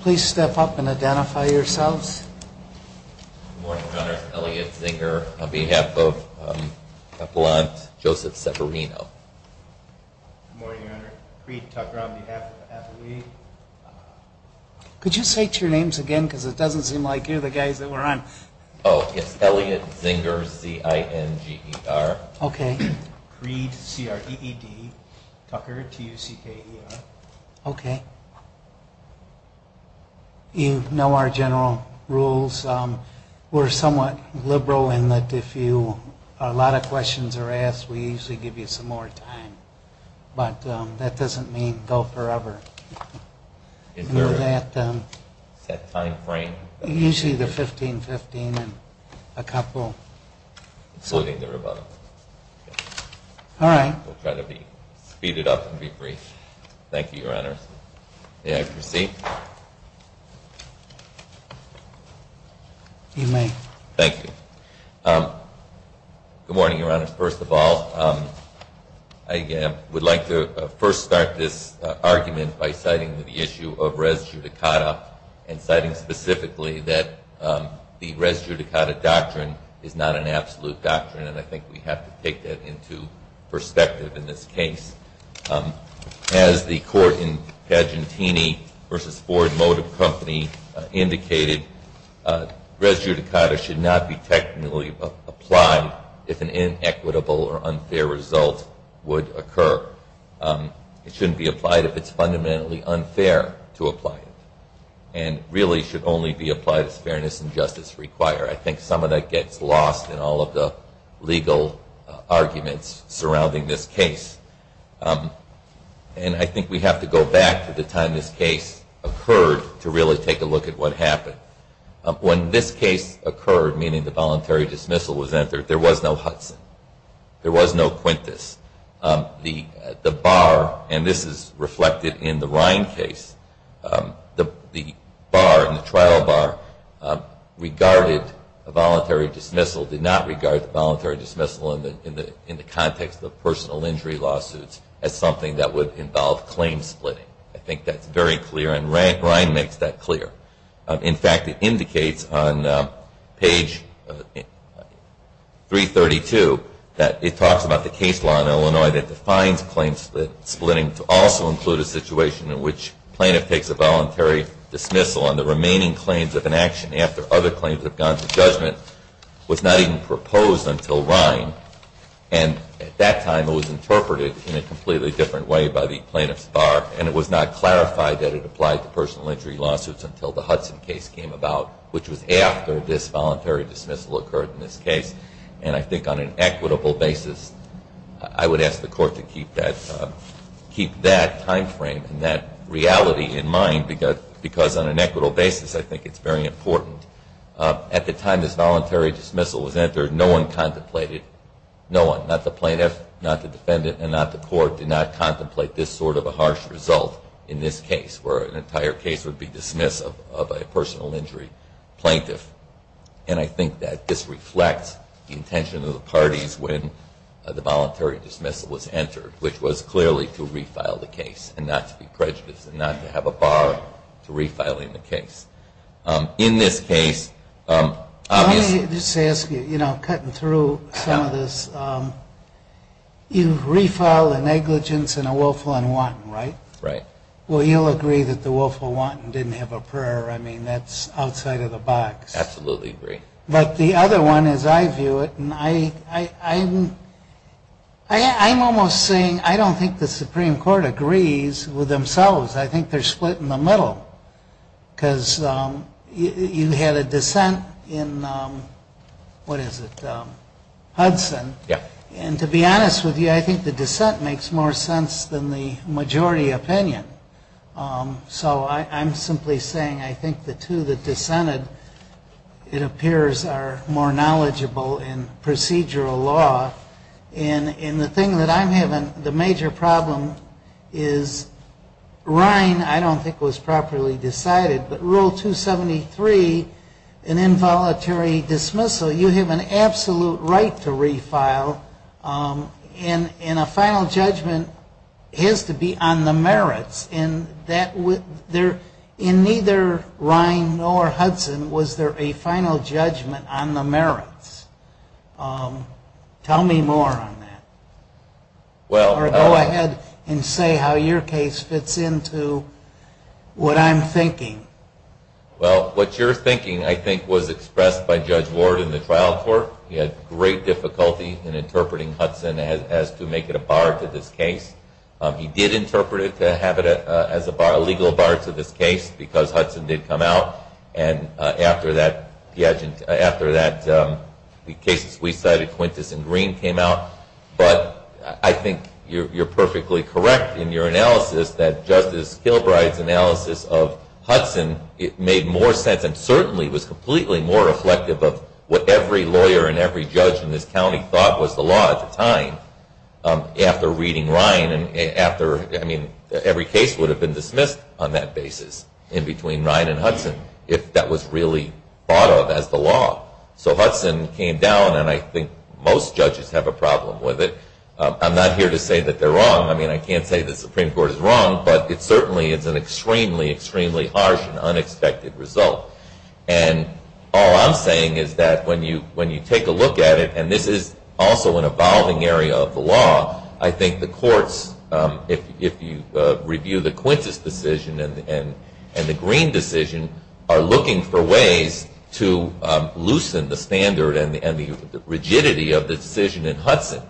Please step up and identify yourselves. Good morning, Your Honor. Elliot Zinger, on behalf of Kaplan Joseph Severino. Good morning, Your Honor. Creed Tucker, on behalf of Appalachia. Could you say your names again, because it doesn't seem like you're the guys that we're on. Oh, it's Elliot Zinger, Z-I-N-G-E-R. Okay. Creed, C-R-E-E-D. Tucker, T-U-C-K-E-R. Okay. You know our general rules. We're somewhat liberal in that if a lot of questions are asked, we usually give you some more time. But that doesn't mean go forever. Is there a set time frame? Usually the 15-15 and a couple. Including the rebuttal. All right. We'll try to speed it up and be brief. Thank you, Your Honor. May I proceed? You may. Thank you. Good morning, Your Honor. First of all, I would like to first start this argument by citing the issue of res judicata and citing specifically that the res judicata doctrine is not an absolute doctrine, and I think we have to take that into perspective in this case. As the court in Pagentini v. Ford Motor Company indicated, res judicata should not be technically applied if an inequitable or unfair result would occur. It shouldn't be applied if it's fundamentally unfair to apply it and really should only be applied as fairness and justice require. I think some of that gets lost in all of the legal arguments surrounding this case. And I think we have to go back to the time this case occurred to really take a look at what happened. When this case occurred, meaning the voluntary dismissal was entered, there was no Hudson. There was no Quintus. The bar, and this is reflected in the Ryan case, the bar, the trial bar, regarded a voluntary dismissal, did not regard the voluntary dismissal in the context of personal injury lawsuits as something that would involve claim splitting. I think that's very clear, and Ryan makes that clear. In fact, it indicates on page 332 that it talks about the case law in Illinois that defines claim splitting to also include a situation in which plaintiff takes a voluntary dismissal and the remaining claims of inaction after other claims have gone to judgment was not even proposed until Ryan. And at that time, it was interpreted in a completely different way by the plaintiff's bar, and it was not clarified that it applied to personal injury lawsuits until the Hudson case came about, which was after this voluntary dismissal occurred in this case. And I think on an equitable basis, I would ask the court to keep that timeframe and that reality in mind because on an equitable basis, I think it's very important. At the time this voluntary dismissal was entered, no one contemplated, no one, not the plaintiff, not the defendant, and not the court, did not contemplate this sort of a harsh result in this case where an entire case would be dismissed of a personal injury plaintiff. And I think that this reflects the intention of the parties when the voluntary dismissal was entered, which was clearly to refile the case and not to be prejudiced and not to have a bar to refiling the case. In this case, obviously- Let me just ask you, you know, cutting through some of this, you've refiled the negligence in a Woelfel and Wanton, right? Right. Well, you'll agree that the Woelfel and Wanton didn't have a prayer. I mean, that's outside of the box. Absolutely agree. But the other one is I view it, and I'm almost saying I don't think the Supreme Court agrees with themselves. I think they're split in the middle because you had a dissent in, what is it, Hudson. Yeah. And to be honest with you, I think the dissent makes more sense than the majority opinion. So I'm simply saying I think the two that dissented, it appears, are more knowledgeable in procedural law. And the thing that I'm having, the major problem is Rhine, I don't think, was properly decided. But Rule 273, an involuntary dismissal, you have an absolute right to refile. And a final judgment has to be on the merits. In neither Rhine nor Hudson was there a final judgment on the merits. Tell me more on that. Or go ahead and say how your case fits into what I'm thinking. Well, what you're thinking, I think, was expressed by Judge Ward in the trial court. He had great difficulty in interpreting Hudson as to make it a bar to this case. He did interpret it to have it as a legal bar to this case because Hudson did come out. And after that, the cases we cited, Quintus and Green, came out. But I think you're perfectly correct in your analysis that Justice Gilbride's analysis of Hudson, it made more sense and certainly was completely more reflective of what every lawyer and every judge in this county thought was the law at the time after reading Rhine. I mean, every case would have been dismissed on that basis in between Rhine and Hudson if that was really thought of as the law. So Hudson came down, and I think most judges have a problem with it. I'm not here to say that they're wrong. I mean, I can't say the Supreme Court is wrong, but it certainly is an extremely, extremely harsh and unexpected result. And all I'm saying is that when you take a look at it, and this is also an evolving area of the law, I think the courts, if you review the Quintus decision and the Green decision, are looking for ways to loosen the standard and the rigidity of the decision in Hudson,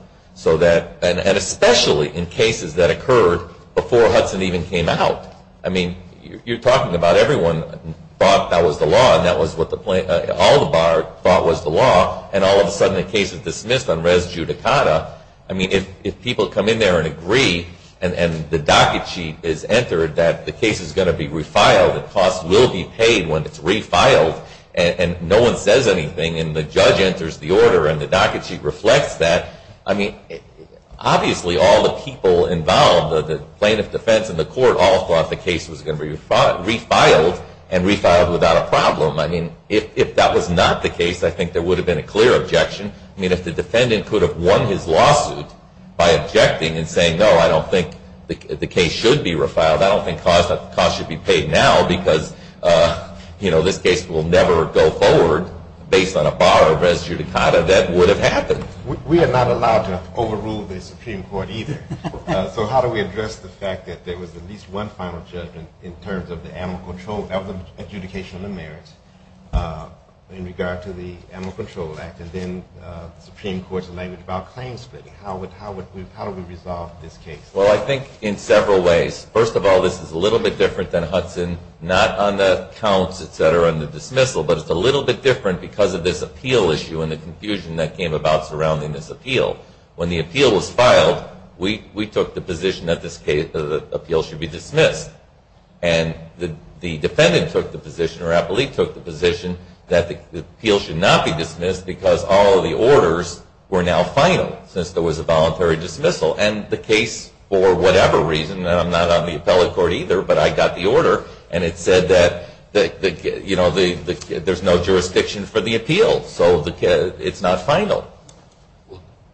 and especially in cases that occurred before Hudson even came out. I mean, you're talking about everyone thought that was the law, and that was what all the bar thought was the law, and all of a sudden the case is dismissed on res judicata. I mean, if people come in there and agree, and the docket sheet is entered that the case is going to be refiled and costs will be paid when it's refiled, and no one says anything, and the judge enters the order and the docket sheet reflects that, I mean, obviously all the people involved, the plaintiff defense and the court, all thought the case was going to be refiled and refiled without a problem. I mean, if that was not the case, I think there would have been a clear objection. I mean, if the defendant could have won his lawsuit by objecting and saying, no, I don't think the case should be refiled, I don't think the cost should be paid now because this case will never go forward based on a bar of res judicata, that would have happened. We are not allowed to overrule the Supreme Court either. So how do we address the fact that there was at least one final judgment in terms of the adjudication of the merits in regard to the Ammal Control Act, and then the Supreme Court's language about claim splitting? How do we resolve this case? Well, I think in several ways. First of all, this is a little bit different than Hudson, not on the counts, et cetera, and the dismissal, but it's a little bit different because of this appeal issue and the confusion that came about surrounding this appeal. When the appeal was filed, we took the position that the appeal should be dismissed, and the defendant took the position, or Appolite took the position, that the appeal should not be dismissed because all of the orders were now final since there was a voluntary dismissal, and the case, for whatever reason, and I'm not on the appellate court either, but I got the order, and it said that there's no jurisdiction for the appeal, so it's not final.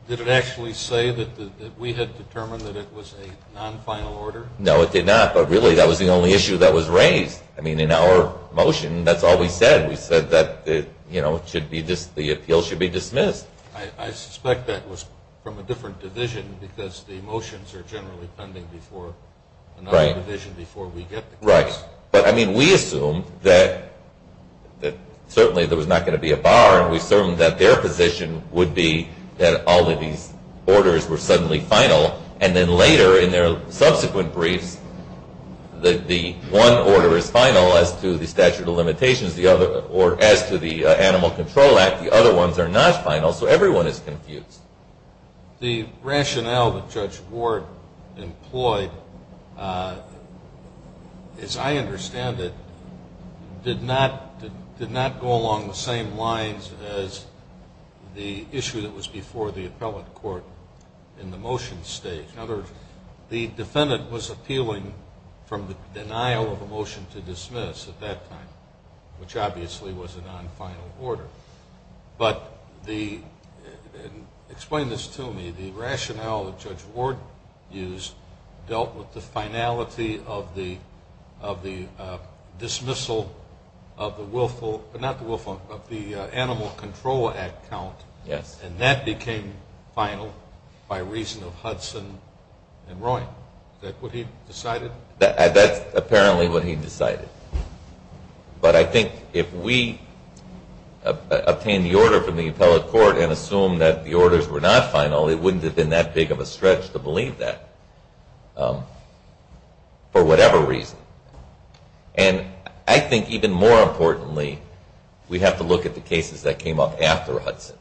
Did it actually say that we had determined that it was a non-final order? No, it did not, but really that was the only issue that was raised. I mean, in our motion, that's all we said. We said that the appeal should be dismissed. I suspect that was from a different division because the motions are generally pending before another division before we get the case. Right. But, I mean, we assumed that certainly there was not going to be a bar, and we assumed that their position would be that all of these orders were suddenly final, and then later in their subsequent briefs that the one order is final as to the statute of limitations or as to the Animal Control Act. The other ones are not final, so everyone is confused. The rationale that Judge Ward employed, as I understand it, did not go along the same lines as the issue that was before the appellate court in the motion stage. In other words, the defendant was appealing from the denial of a motion to dismiss at that time, which obviously was a non-final order. Explain this to me. The rationale that Judge Ward used dealt with the finality of the dismissal of the willful, but not the willful, but the Animal Control Act count, and that became final by reason of Hudson and Roy. Is that what he decided? That's apparently what he decided. But I think if we obtained the order from the appellate court and assumed that the orders were not final, it wouldn't have been that big of a stretch to believe that for whatever reason. And I think even more importantly, we have to look at the cases that came up after Hudson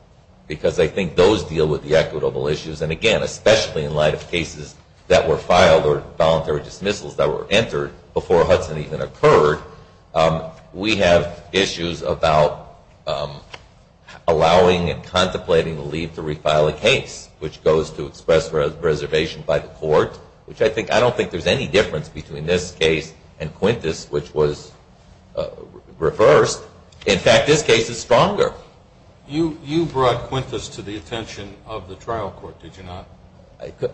because I think those deal with the equitable issues, and again, especially in light of cases that were filed or voluntary dismissals that were entered before Hudson even occurred, we have issues about allowing and contemplating the leave to refile a case, which goes to express reservation by the court, which I don't think there's any difference between this case and Quintus, which was reversed. In fact, this case is stronger. You brought Quintus to the attention of the trial court, did you not?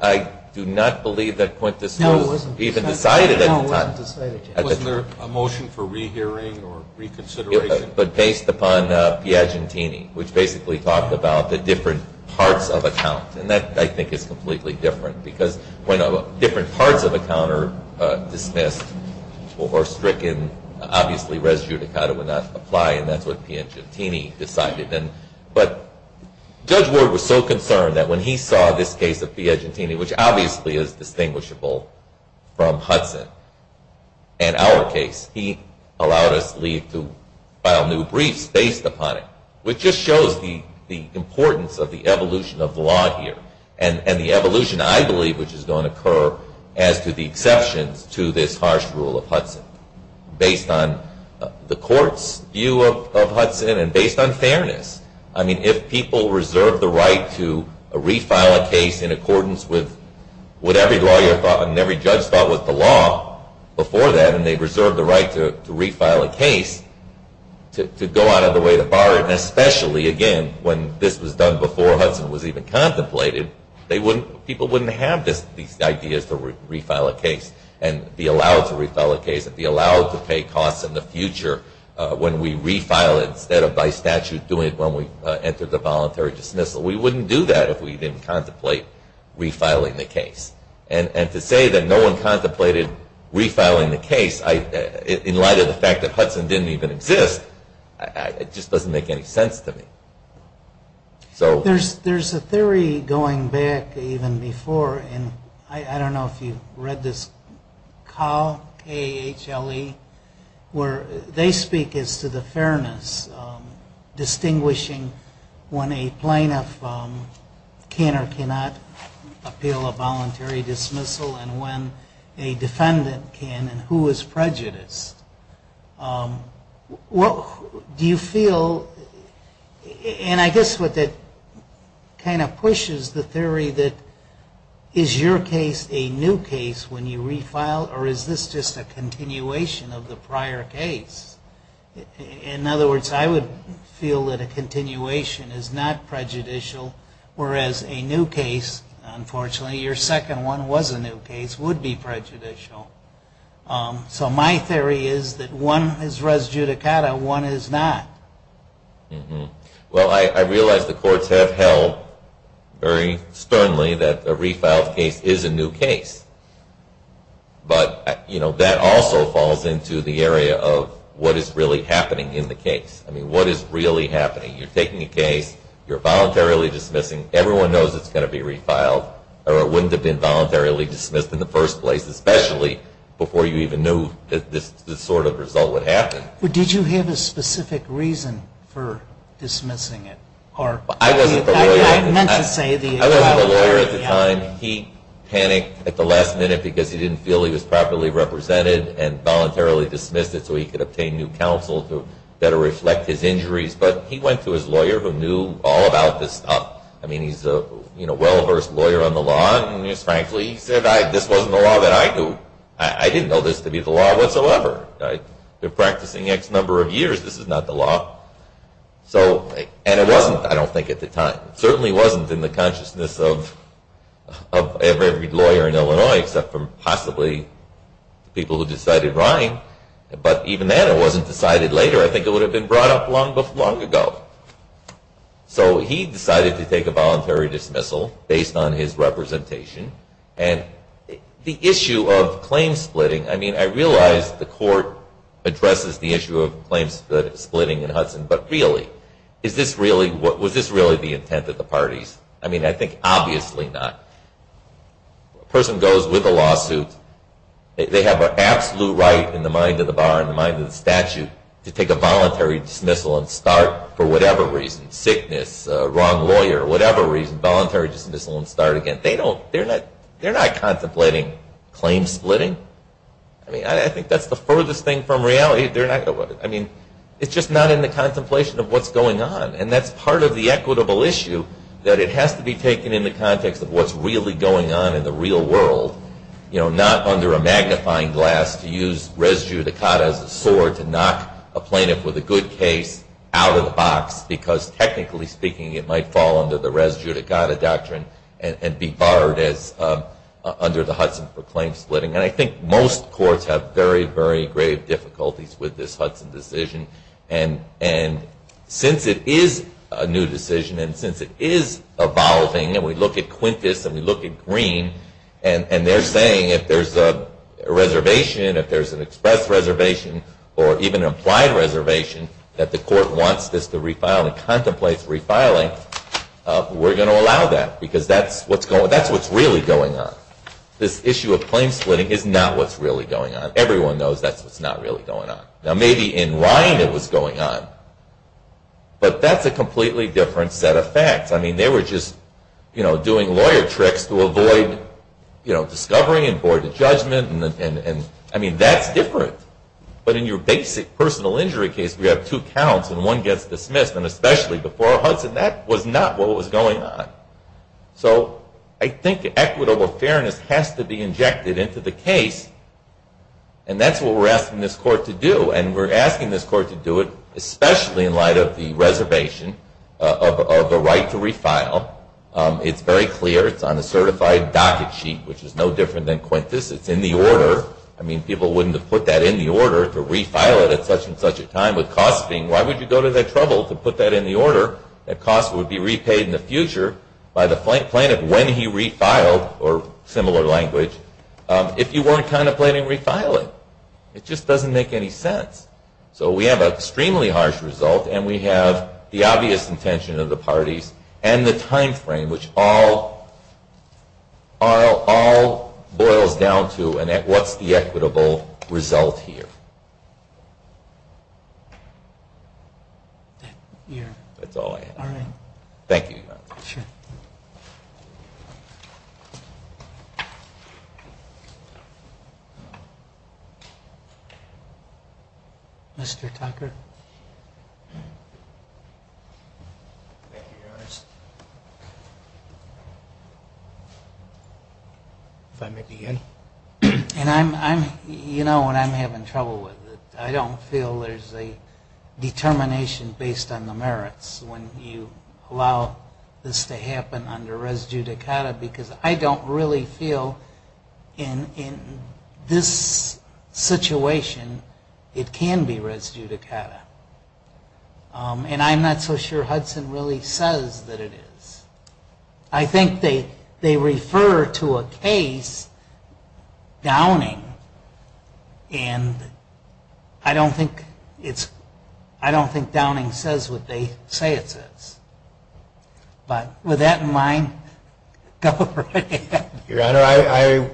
I do not believe that Quintus was even decided at the time. Wasn't there a motion for rehearing or reconsideration? But based upon Piagentini, which basically talked about the different parts of a count, and that I think is completely different because when different parts of a count are dismissed or stricken, obviously res judicata would not apply, and that's what Piagentini decided. But Judge Ward was so concerned that when he saw this case of Piagentini, which obviously is distinguishable from Hudson and our case, he allowed us leave to file new briefs based upon it, which just shows the importance of the evolution of the law here and the evolution I believe which is going to occur as to the exceptions to this harsh rule of Hudson. Based on the court's view of Hudson and based on fairness, I mean, if people reserved the right to refile a case in accordance with what every lawyer thought and every judge thought was the law before that, and they reserved the right to refile a case to go out of the way to bar it, and especially, again, when this was done before Hudson was even contemplated, people wouldn't have these ideas to refile a case and be allowed to refile a case and be allowed to pay costs in the future when we refile it instead of by statute doing it when we entered the voluntary dismissal. We wouldn't do that if we didn't contemplate refiling the case. And to say that no one contemplated refiling the case in light of the fact that Hudson didn't even exist, it just doesn't make any sense to me. There's a theory going back even before, and I don't know if you read this, where they speak as to the fairness, distinguishing when a plaintiff can or cannot appeal a voluntary dismissal and when a defendant can and who is prejudiced. Do you feel, and I guess what that kind of pushes the theory that is your case a new case when you refile or is this just a continuation of the prior case? In other words, I would feel that a continuation is not prejudicial, whereas a new case, unfortunately, your second one was a new case, would be prejudicial. So my theory is that one is res judicata, one is not. Well, I realize the courts have held very sternly that a refiled case is a new case. But that also falls into the area of what is really happening in the case. I mean, what is really happening? You're taking a case, you're voluntarily dismissing, everyone knows it's going to be refiled, or it wouldn't have been voluntarily dismissed in the first place, especially before you even knew that this sort of result would happen. But did you have a specific reason for dismissing it? I wasn't the lawyer at the time. He panicked at the last minute because he didn't feel he was properly represented and voluntarily dismissed it so he could obtain new counsel to better reflect his injuries. But he went to his lawyer who knew all about this stuff. I mean, he's a well-versed lawyer on the law and, frankly, he said this wasn't the law that I knew. I didn't know this to be the law whatsoever. I've been practicing X number of years, this is not the law. And it wasn't, I don't think, at the time. It certainly wasn't in the consciousness of every lawyer in Illinois, except for possibly the people who decided Ryan. But even then, it wasn't decided later. I think it would have been brought up long ago. So he decided to take a voluntary dismissal based on his representation. And the issue of claim splitting, I mean, I realize the court addresses the issue of claims splitting in Hudson, but really, was this really the intent of the parties? I mean, I think obviously not. A person goes with a lawsuit, they have an absolute right in the mind of the bar and the mind of the statute to take a voluntary dismissal and start for whatever reason, sickness, wrong lawyer, whatever reason, voluntary dismissal and start again. They're not contemplating claim splitting. I mean, I think that's the furthest thing from reality. I mean, it's just not in the contemplation of what's going on. And that's part of the equitable issue, that it has to be taken in the context of what's really going on in the real world, not under a magnifying glass to use res judicata as a sword to knock a plaintiff with a good case out of the box, because technically speaking, it might fall under the res judicata doctrine and be barred under the Hudson for claim splitting. And I think most courts have very, very grave difficulties with this Hudson decision. And since it is a new decision and since it is evolving, and we look at Quintus and we look at Green, and they're saying if there's a reservation, if there's an express reservation or even an implied reservation, that the court wants this to refile and contemplate refiling, we're going to allow that, because that's what's really going on. This issue of claim splitting is not what's really going on. Everyone knows that's what's not really going on. Now, maybe in Ryan it was going on, but that's a completely different set of facts. I mean, they were just doing lawyer tricks to avoid discovery and board of judgment. I mean, that's different. But in your basic personal injury case, we have two counts and one gets dismissed, and especially before Hudson, that was not what was going on. So I think equitable fairness has to be injected into the case, and that's what we're asking this court to do. And we're asking this court to do it especially in light of the reservation of the right to refile. It's very clear. It's on a certified docket sheet, which is no different than Quintus. It's in the order. I mean, people wouldn't have put that in the order to refile it at such and such a time with costs being, why would you go to that trouble to put that in the order that costs would be repaid in the future by the plaintiff when he refiled, or similar language, if you weren't contemplating refiling? It just doesn't make any sense. So we have an extremely harsh result, and we have the obvious intention of the parties and the time frame, which all boils down to what's the equitable result here. That's all I have. Thank you. Sure. Mr. Tucker? Thank you, Your Honor. If I may begin. You know what I'm having trouble with. I don't feel there's a determination based on the merits when you allow this to happen under res judicata, because I don't really feel in this situation it can be res judicata. And I'm not so sure Hudson really says that it is. I think they refer to a case, Downing, and I don't think Downing says what they say it says. But with that in mind, go right ahead. Your Honor,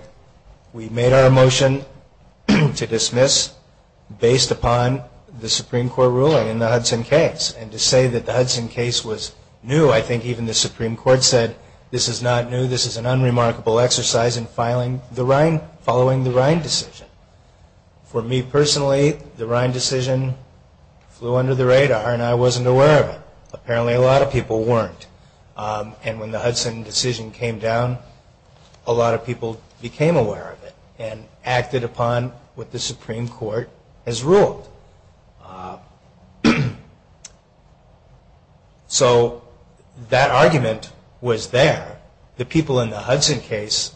we made our motion to dismiss based upon the Supreme Court ruling in the Hudson case. And to say that the Hudson case was new, I think even the Supreme Court said, this is not new, this is an unremarkable exercise in following the Rhine decision. For me personally, the Rhine decision flew under the radar, and I wasn't aware of it. Apparently a lot of people weren't. And when the Hudson decision came down, a lot of people became aware of it and acted upon what the Supreme Court has ruled. So that argument was there. The people in the Hudson case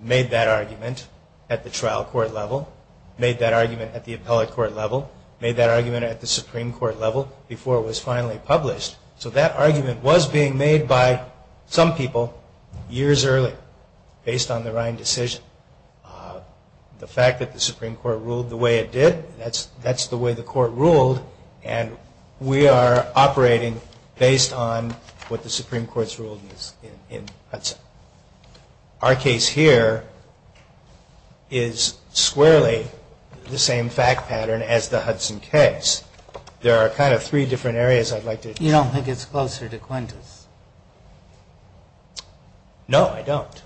made that argument at the trial court level, made that argument at the appellate court level, made that argument at the Supreme Court level before it was finally published. So that argument was being made by some people years early based on the Rhine decision. The fact that the Supreme Court ruled the way it did, that's the way the court ruled, and we are operating based on what the Supreme Court's rule is in Hudson. Our case here is squarely the same fact pattern as the Hudson case. There are kind of three different areas I'd like to address. You don't think it's closer to Quintus? No, I don't.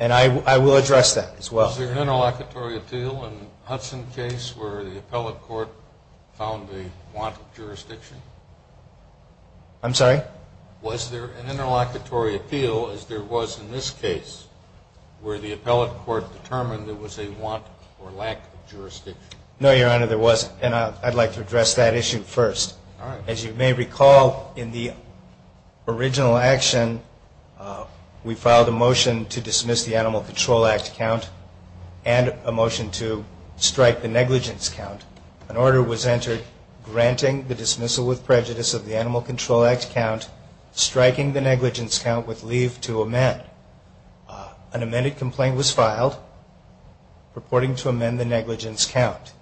And I will address that as well. Was there an interlocutory appeal in the Hudson case where the appellate court found a want of jurisdiction? I'm sorry? Was there an interlocutory appeal, as there was in this case, where the appellate court determined there was a want or lack of jurisdiction? No, Your Honor, there wasn't. And I'd like to address that issue first. As you may recall, in the original action, we filed a motion to dismiss the Animal Control Act count and a motion to strike the negligence count. An order was entered granting the dismissal with prejudice of the Animal Control Act count, striking the negligence count with leave to amend. An amended complaint was filed purporting to amend the negligence count.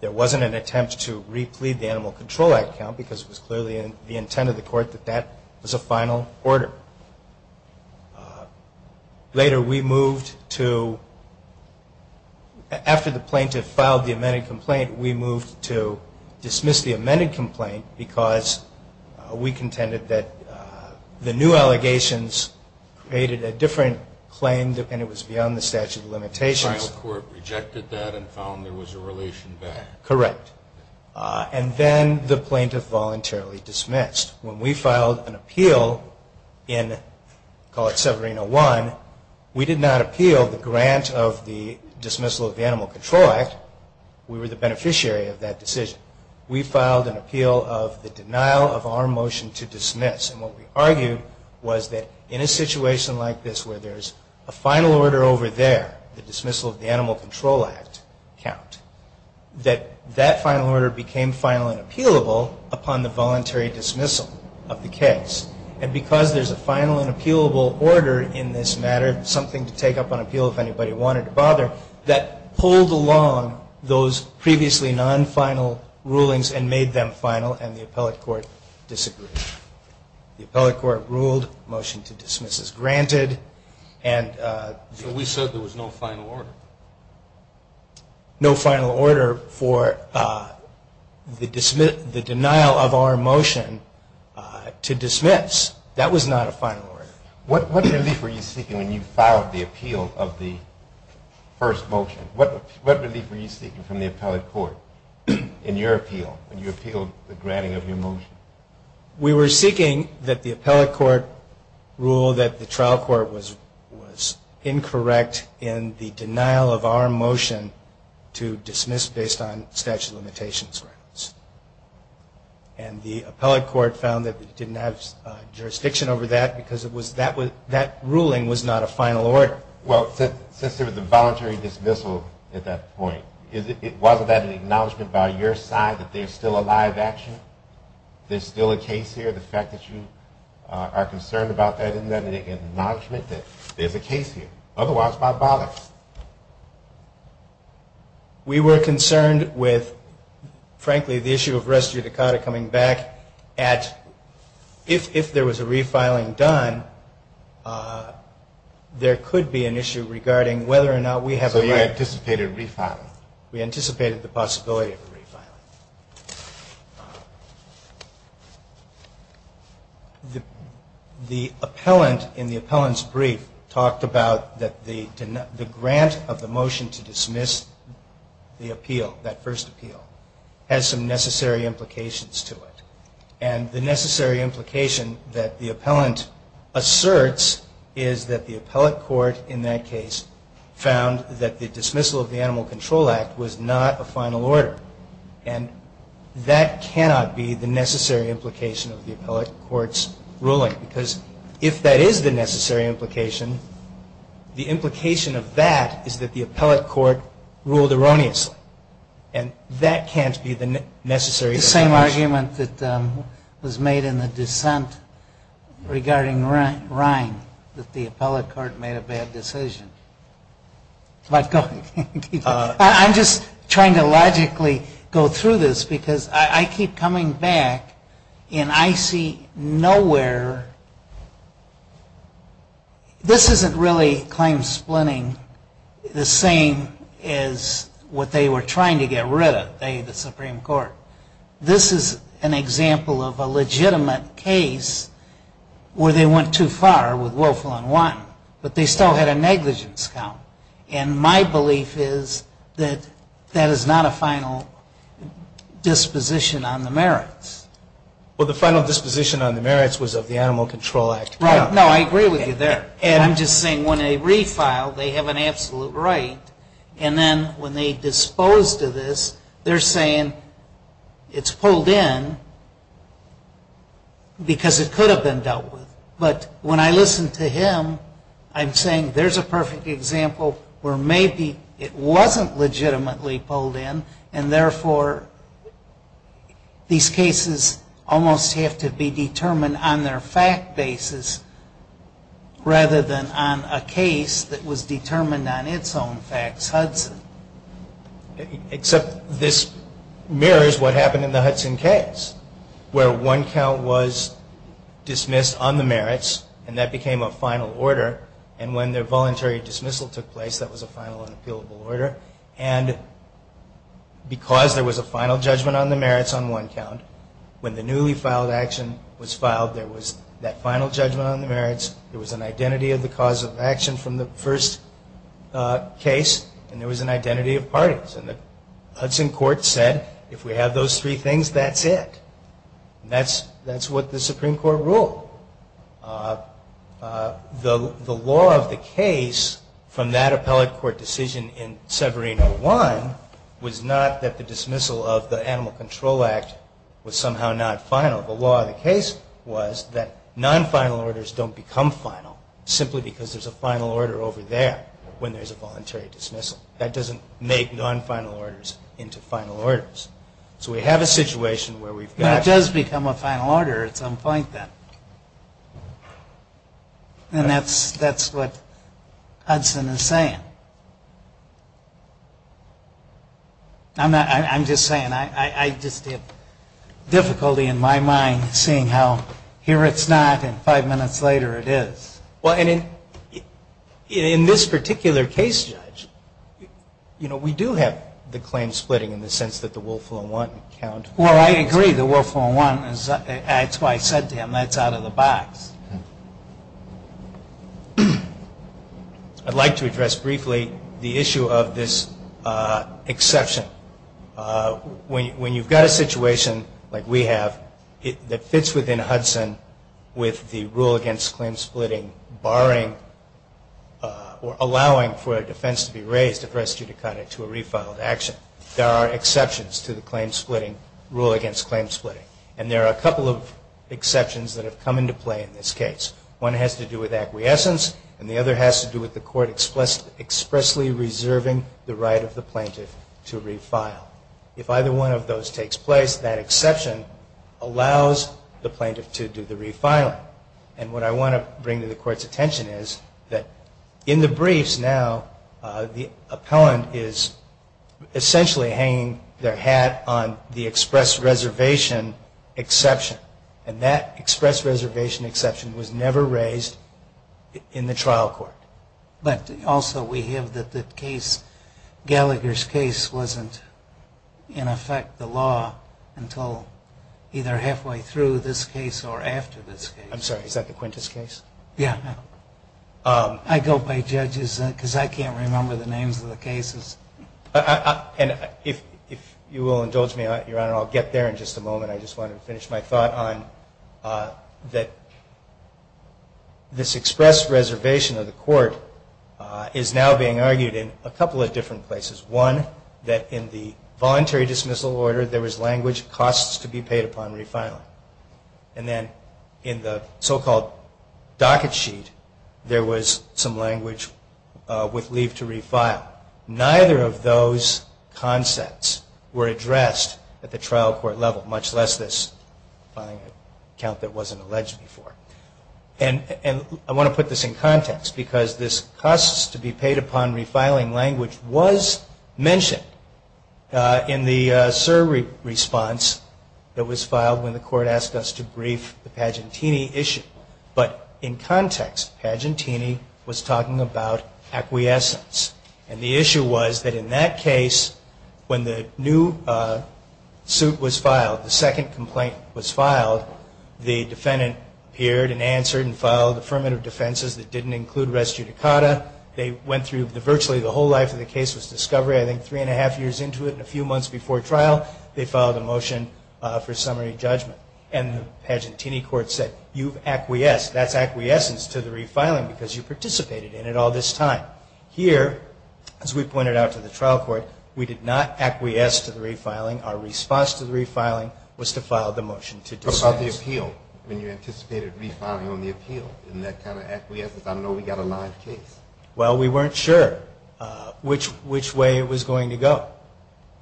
There wasn't an attempt to replete the Animal Control Act count because it was clearly the intent of the court that that was a final order. Later we moved to, after the plaintiff filed the amended complaint, we moved to dismiss the amended complaint because we contended that the new allegations created a different claim and it was beyond the statute of limitations. The final court rejected that and found there was a relation there. Correct. And then the plaintiff voluntarily dismissed. When we filed an appeal in, call it Severino 1, we did not appeal the grant of the dismissal of the Animal Control Act. We were the beneficiary of that decision. We filed an appeal of the denial of our motion to dismiss. And what we argued was that in a situation like this where there's a final order over there, the dismissal of the Animal Control Act count, that that final order became final and appealable upon the voluntary dismissal of the case. And because there's a final and appealable order in this matter, that pulled along those previously non-final rulings and made them final and the appellate court disagreed. The appellate court ruled, motion to dismiss is granted. So we said there was no final order. No final order for the denial of our motion to dismiss. That was not a final order. What relief were you seeking when you filed the appeal of the first motion? What relief were you seeking from the appellate court in your appeal when you appealed the granting of your motion? We were seeking that the appellate court rule that the trial court was incorrect in the denial of our motion to dismiss based on statute of limitations. And the appellate court found that we didn't have jurisdiction over that because that ruling was not a final order. Well, since there was a voluntary dismissal at that point, wasn't that an acknowledgment by your side that there's still a live action, there's still a case here, the fact that you are concerned about that, isn't that an acknowledgment that there's a case here? Otherwise, why bother? We were concerned with, frankly, the issue of res judicata coming back at if there was a refiling done, there could be an issue regarding whether or not we have a right. So you anticipated refiling? We anticipated the possibility of a refiling. The appellant in the appellant's brief talked about that the grant of the motion to dismiss the appeal, that first appeal, has some necessary implications to it. And the necessary implication that the appellant asserts is that the appellate court in that case found that the dismissal of the Animal Control Act was not a final order. And that cannot be the necessary implication of the appellate court's ruling because if that is the necessary implication, the implication of that is that the appellate court ruled erroneously. And that can't be the necessary implication. It's the same argument that was made in the dissent regarding Ryan, that the appellate court made a bad decision. I'm just trying to logically go through this because I keep coming back and I see nowhere... This isn't really claim splitting the same as what they were trying to get rid of, that they, the Supreme Court. This is an example of a legitimate case where they went too far with Wolfel and Watten, but they still had a negligence count. And my belief is that that is not a final disposition on the merits. Well, the final disposition on the merits was of the Animal Control Act. Right. No, I agree with you there. And I'm just saying when they refile, they have an absolute right. And then when they dispose to this, they're saying it's pulled in because it could have been dealt with. But when I listen to him, I'm saying there's a perfect example where maybe it wasn't legitimately pulled in, and therefore these cases almost have to be determined on their fact basis rather than on a case that was determined on its own facts, Hudson. Except this mirrors what happened in the Hudson case where one count was dismissed on the merits and that became a final order. And when their voluntary dismissal took place, that was a final unappealable order. And because there was a final judgment on the merits on one count, when the newly filed action was filed, there was that final judgment on the merits, there was an identity of the cause of action from the first case, and there was an identity of parties. And the Hudson court said, if we have those three things, that's it. That's what the Supreme Court ruled. The law of the case from that appellate court decision in Severino 1 was not that the dismissal of the Animal Control Act was somehow not final. The law of the case was that non-final orders don't become final simply because there's a final order over there when there's a voluntary dismissal. That doesn't make non-final orders into final orders. So we have a situation where we've got... And that's what Hudson is saying. I'm just saying. I just have difficulty in my mind seeing how here it's not and five minutes later it is. Well, and in this particular case, Judge, you know, we do have the claim splitting in the sense that the Wolfville 1 count... Well, I agree. The Wolfville 1, that's what I said to him, that's out of the box. I'd like to address briefly the issue of this exception. When you've got a situation like we have that fits within Hudson with the rule against claim splitting barring or allowing for a defense to be raised if res judicata to a refiled action, there are exceptions to the rule against claim splitting. And there are a couple of exceptions that have come into play in this case. One has to do with acquiescence, and the other has to do with the court expressly reserving the right of the plaintiff to refile. If either one of those takes place, that exception allows the plaintiff to do the refiling. And what I want to bring to the Court's attention is that in the briefs now, the appellant is essentially hanging their hat on the express reservation exception. And that express reservation exception was never raised in the trial court. But also we have that the case, Gallagher's case, wasn't in effect the law until either halfway through this case or after this case. I'm sorry, is that the Quintus case? Yeah. I go by judges because I can't remember the names of the cases. And if you will indulge me, Your Honor, I'll get there in just a moment. I just want to finish my thought on that this express reservation of the court is now being argued in a couple of different places. One, that in the voluntary dismissal order there was language costs to be paid upon refiling. And then in the so-called docket sheet, there was some language with leave to refile. Neither of those concepts were addressed at the trial court level, much less this filing account that wasn't alleged before. And I want to put this in context because this costs to be paid upon refiling language was mentioned in the SIR response that was filed when the court asked us to brief the Pagentini issue. But in context, Pagentini was talking about acquiescence. And the issue was that in that case, when the new suit was filed, the second complaint was filed, the defendant appeared and answered and filed affirmative defenses that didn't include res judicata. They went through virtually the whole life of the case was discovery. I think three and a half years into it and a few months before trial, they filed a motion for summary judgment. And the Pagentini court said, you've acquiesced. That's acquiescence to the refiling because you participated in it all this time. Here, as we pointed out to the trial court, we did not acquiesce to the refiling. Our response to the refiling was to file the motion to dismiss. When you anticipated refiling on the appeal, isn't that kind of acquiescence? I don't know if we got a live case. Well, we weren't sure which way it was going to go.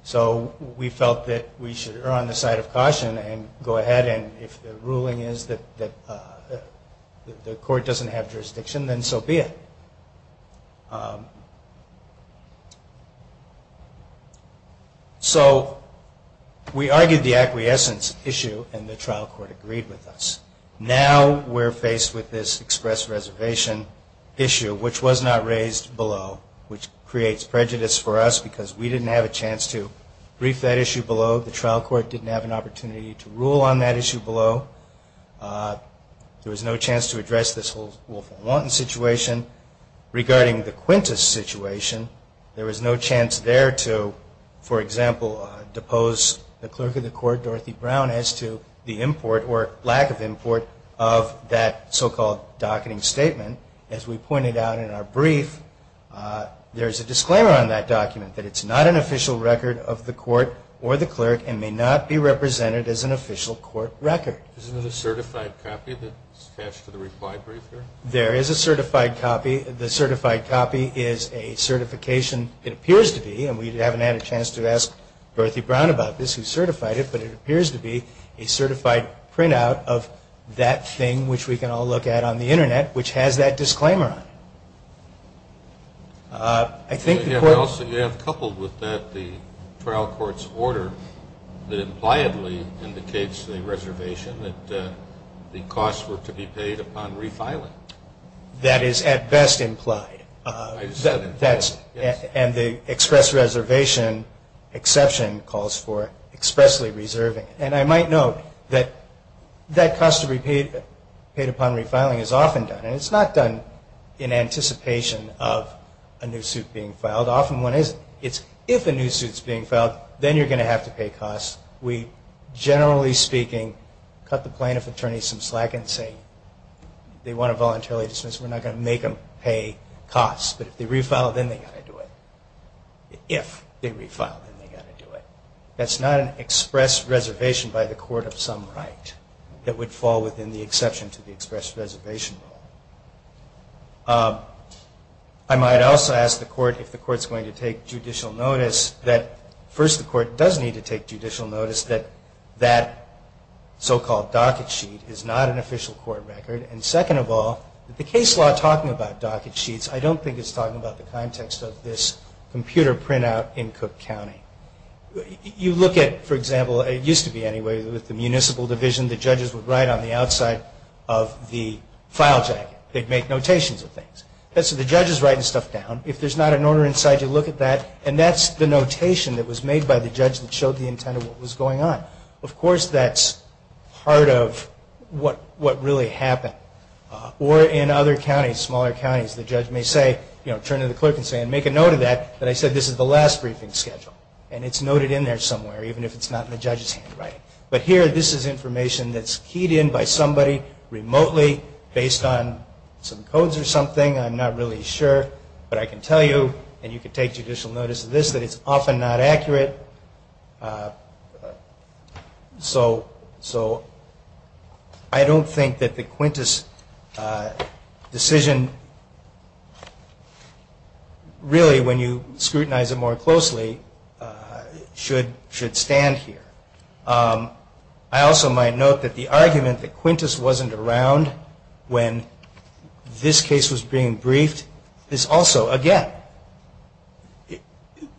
So we felt that we should err on the side of caution and go ahead. And if the ruling is that the court doesn't have jurisdiction, then so be it. So we argued the acquiescence issue, and the trial court agreed with us. Now we're faced with this express reservation issue, which was not raised below, which creates prejudice for us because we didn't have a chance to brief that issue below. The trial court didn't have an opportunity to rule on that issue below. There was no chance to address this whole Wolfenwanten situation. Regarding the Quintus situation, there was no chance there to, for example, depose the clerk of the court, Dorothy Brown, as to the import or lack of import of that so-called docketing statement. As we pointed out in our brief, there's a disclaimer on that document, that it's not an official record of the court or the clerk, and may not be represented as an official court record. Isn't there a certified copy that's attached to the reply brief here? There is a certified copy. The certified copy is a certification, it appears to be, and we haven't had a chance to ask Dorothy Brown about this, who certified it, but it appears to be a certified printout of that thing, which we can all look at on the Internet, which has that disclaimer on it. I think the court... You have coupled with that the trial court's order that impliedly indicates the reservation, that the costs were to be paid upon refiling. That is at best implied. I said implied, yes. And the express reservation exception calls for expressly reserving. And I might note that that cost to be paid upon refiling is often done, and it's not done in anticipation of a new suit being filed. Often when it's if a new suit's being filed, then you're going to have to pay costs. We, generally speaking, cut the plaintiff attorney some slack and say they want to voluntarily dismiss, we're not going to make them pay costs. But if they refile, then they've got to do it. If they refile, then they've got to do it. That's not an express reservation by the court of some right that would fall within the exception to the express reservation rule. I might also ask the court if the court's going to take judicial notice, that first, the court does need to take judicial notice that that so-called docket sheet is not an official court record. And second of all, the case law talking about docket sheets, I don't think it's talking about the context of this computer printout in Cook County. You look at, for example, it used to be anyway, with the municipal division the judges would write on the outside of the file jacket. They'd make notations of things. So the judge is writing stuff down. If there's not an order inside, you look at that. And that's the notation that was made by the judge that showed the intent of what was going on. Of course, that's part of what really happened. Or in other counties, smaller counties, the judge may say, you know, turn to the clerk and say, and make a note of that, that I said this is the last briefing schedule. And it's noted in there somewhere, even if it's not in the judge's handwriting. But here, this is information that's keyed in by somebody remotely, based on some codes or something. I'm not really sure, but I can tell you, and you can take judicial notice of this, that it's often not accurate. So I don't think that the Quintus decision, really when you scrutinize it more closely, should stand here. I also might note that the argument that Quintus wasn't around when this case was being briefed is also, again,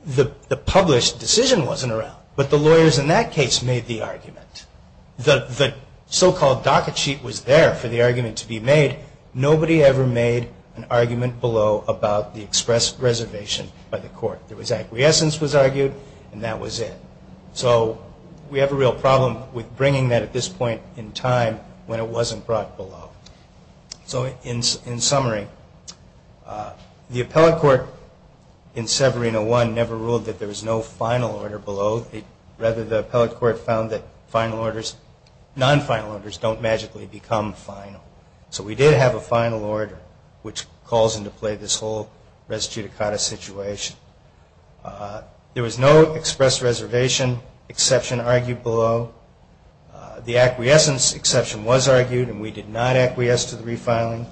the published decision wasn't around. But the lawyers in that case made the argument. The so-called docket sheet was there for the argument to be made. Nobody ever made an argument below about the express reservation by the court. There was acquiescence was argued, and that was it. So we have a real problem with bringing that at this point in time when it wasn't brought below. So in summary, the appellate court in Severino 1 never ruled that there was no final order below. Rather, the appellate court found that final orders, non-final orders, don't magically become final. So we did have a final order, which calls into play this whole res judicata situation. There was no express reservation exception argued below. The acquiescence exception was argued, and we did not acquiesce to the refiling.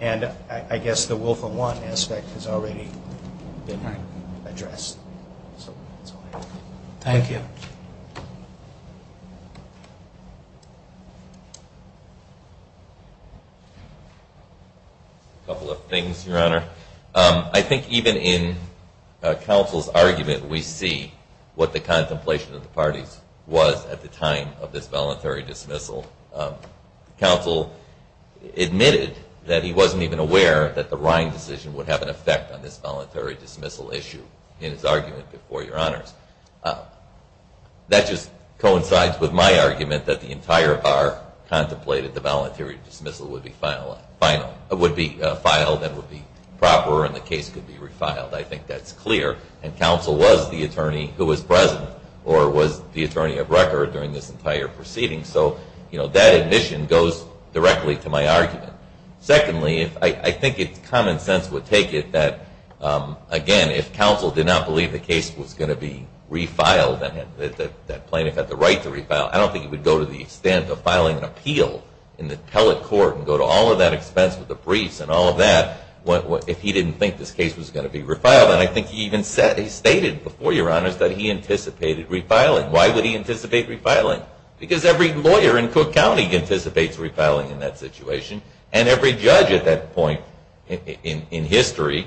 And I guess the will-for-one aspect has already been addressed. Thank you. A couple of things, Your Honor. I think even in counsel's argument, we see what the contemplation of the parties was at the time of this voluntary dismissal. Counsel admitted that he wasn't even aware that the Rhine decision would have an effect on this voluntary dismissal issue in his argument before Your Honors. That just coincides with my argument that the entire bar contemplated the voluntary dismissal would be filed and would be proper and the case could be refiled. I think that's clear. And counsel was the attorney who was present or was the attorney of record during this entire proceeding. So that admission goes directly to my argument. Secondly, I think common sense would take it that, again, if counsel did not believe the case was going to be refiled, that plaintiff had the right to refile, I don't think he would go to the extent of filing an appeal in the appellate court and go to all of that expense with the briefs and all of that if he didn't think this case was going to be refiled. And I think he even stated before Your Honors that he anticipated refiling. Why would he anticipate refiling? Because every lawyer in Cook County anticipates refiling in that situation, and every judge at that point in history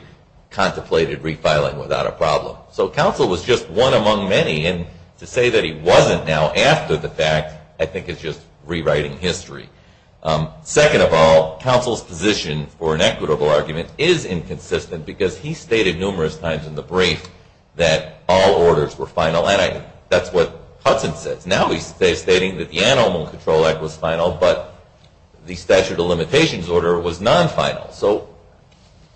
contemplated refiling without a problem. So counsel was just one among many. And to say that he wasn't now after the fact I think is just rewriting history. Second of all, counsel's position for an equitable argument is inconsistent because he stated numerous times in the brief that all orders were final. And that's what Hudson says. Now he's stating that the Animal Control Act was final, but the statute of limitations order was non-final. So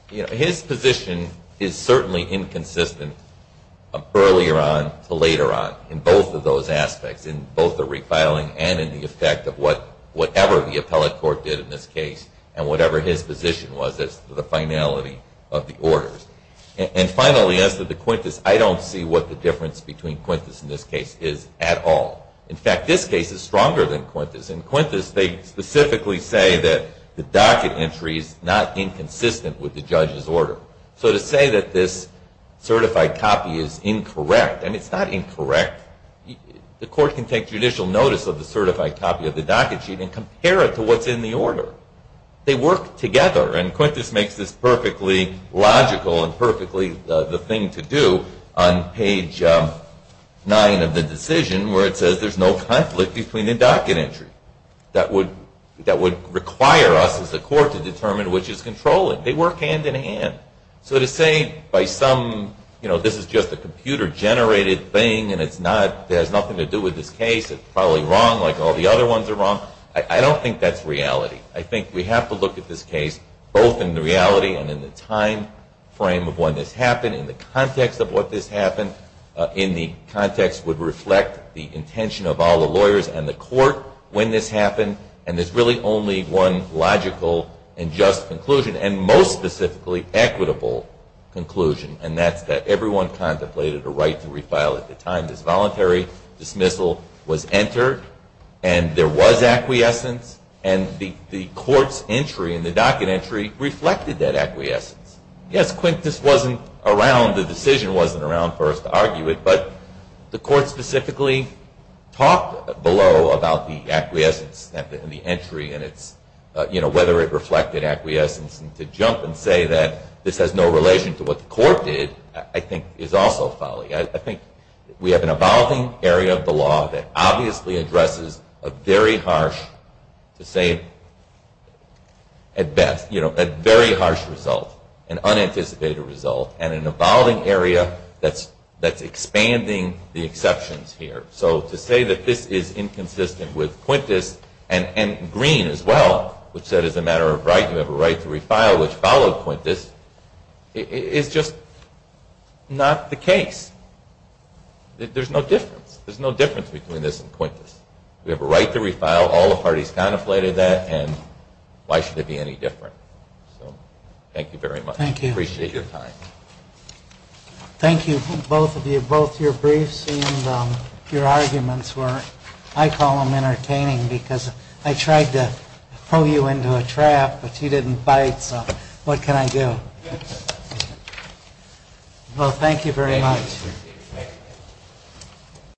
his position is certainly inconsistent earlier on to later on in both of those aspects, in both the refiling and in the effect of whatever the appellate court did in this case and whatever his position was as to the finality of the orders. And finally, as to the Quintus, I don't see what the difference between Quintus in this case is at all. In fact, this case is stronger than Quintus. In Quintus they specifically say that the docket entry is not inconsistent with the judge's order. So to say that this certified copy is incorrect, and it's not incorrect, the court can take judicial notice of the certified copy of the docket sheet and compare it to what's in the order. They work together, and Quintus makes this perfectly logical and perfectly the thing to do on page 9 of the decision where it says there's no conflict between the docket entry. That would require us as a court to determine which is controlling. They work hand-in-hand. So to say by some, you know, this is just a computer-generated thing and it's not, it has nothing to do with this case, it's probably wrong like all the other ones are wrong, I don't think that's reality. I think we have to look at this case both in the reality and in the time frame of when this happened, in the context of what this happened, in the context would reflect the intention of all the lawyers and the court when this happened, and there's really only one logical and just conclusion, and most specifically equitable conclusion, and that's that everyone contemplated a right to refile at the time this voluntary dismissal was entered, and there was acquiescence, and the court's entry in the docket entry reflected that acquiescence. Yes, Quintus wasn't around, the decision wasn't around for us to argue it, but the court specifically talked below about the acquiescence and the entry and whether it reflected acquiescence, and to jump and say that this has no relation to what the court did, I think is also folly. I think we have an evolving area of the law that obviously addresses a very harsh, to say it at best, a very harsh result, an unanticipated result, and an evolving area that's expanding the exceptions here. So to say that this is inconsistent with Quintus, and Green as well, which said as a matter of right, you have a right to refile, which followed Quintus, is just not the case. There's no difference. There's no difference between this and Quintus. We have a right to refile, all the parties contemplated that, and why should it be any different? So thank you very much. Thank you. Appreciate your time. Thank you, both of you. Both your briefs and your arguments were, I call them entertaining, because I tried to throw you into a trap, but you didn't bite, so what can I do? Well, thank you very much. Thank you.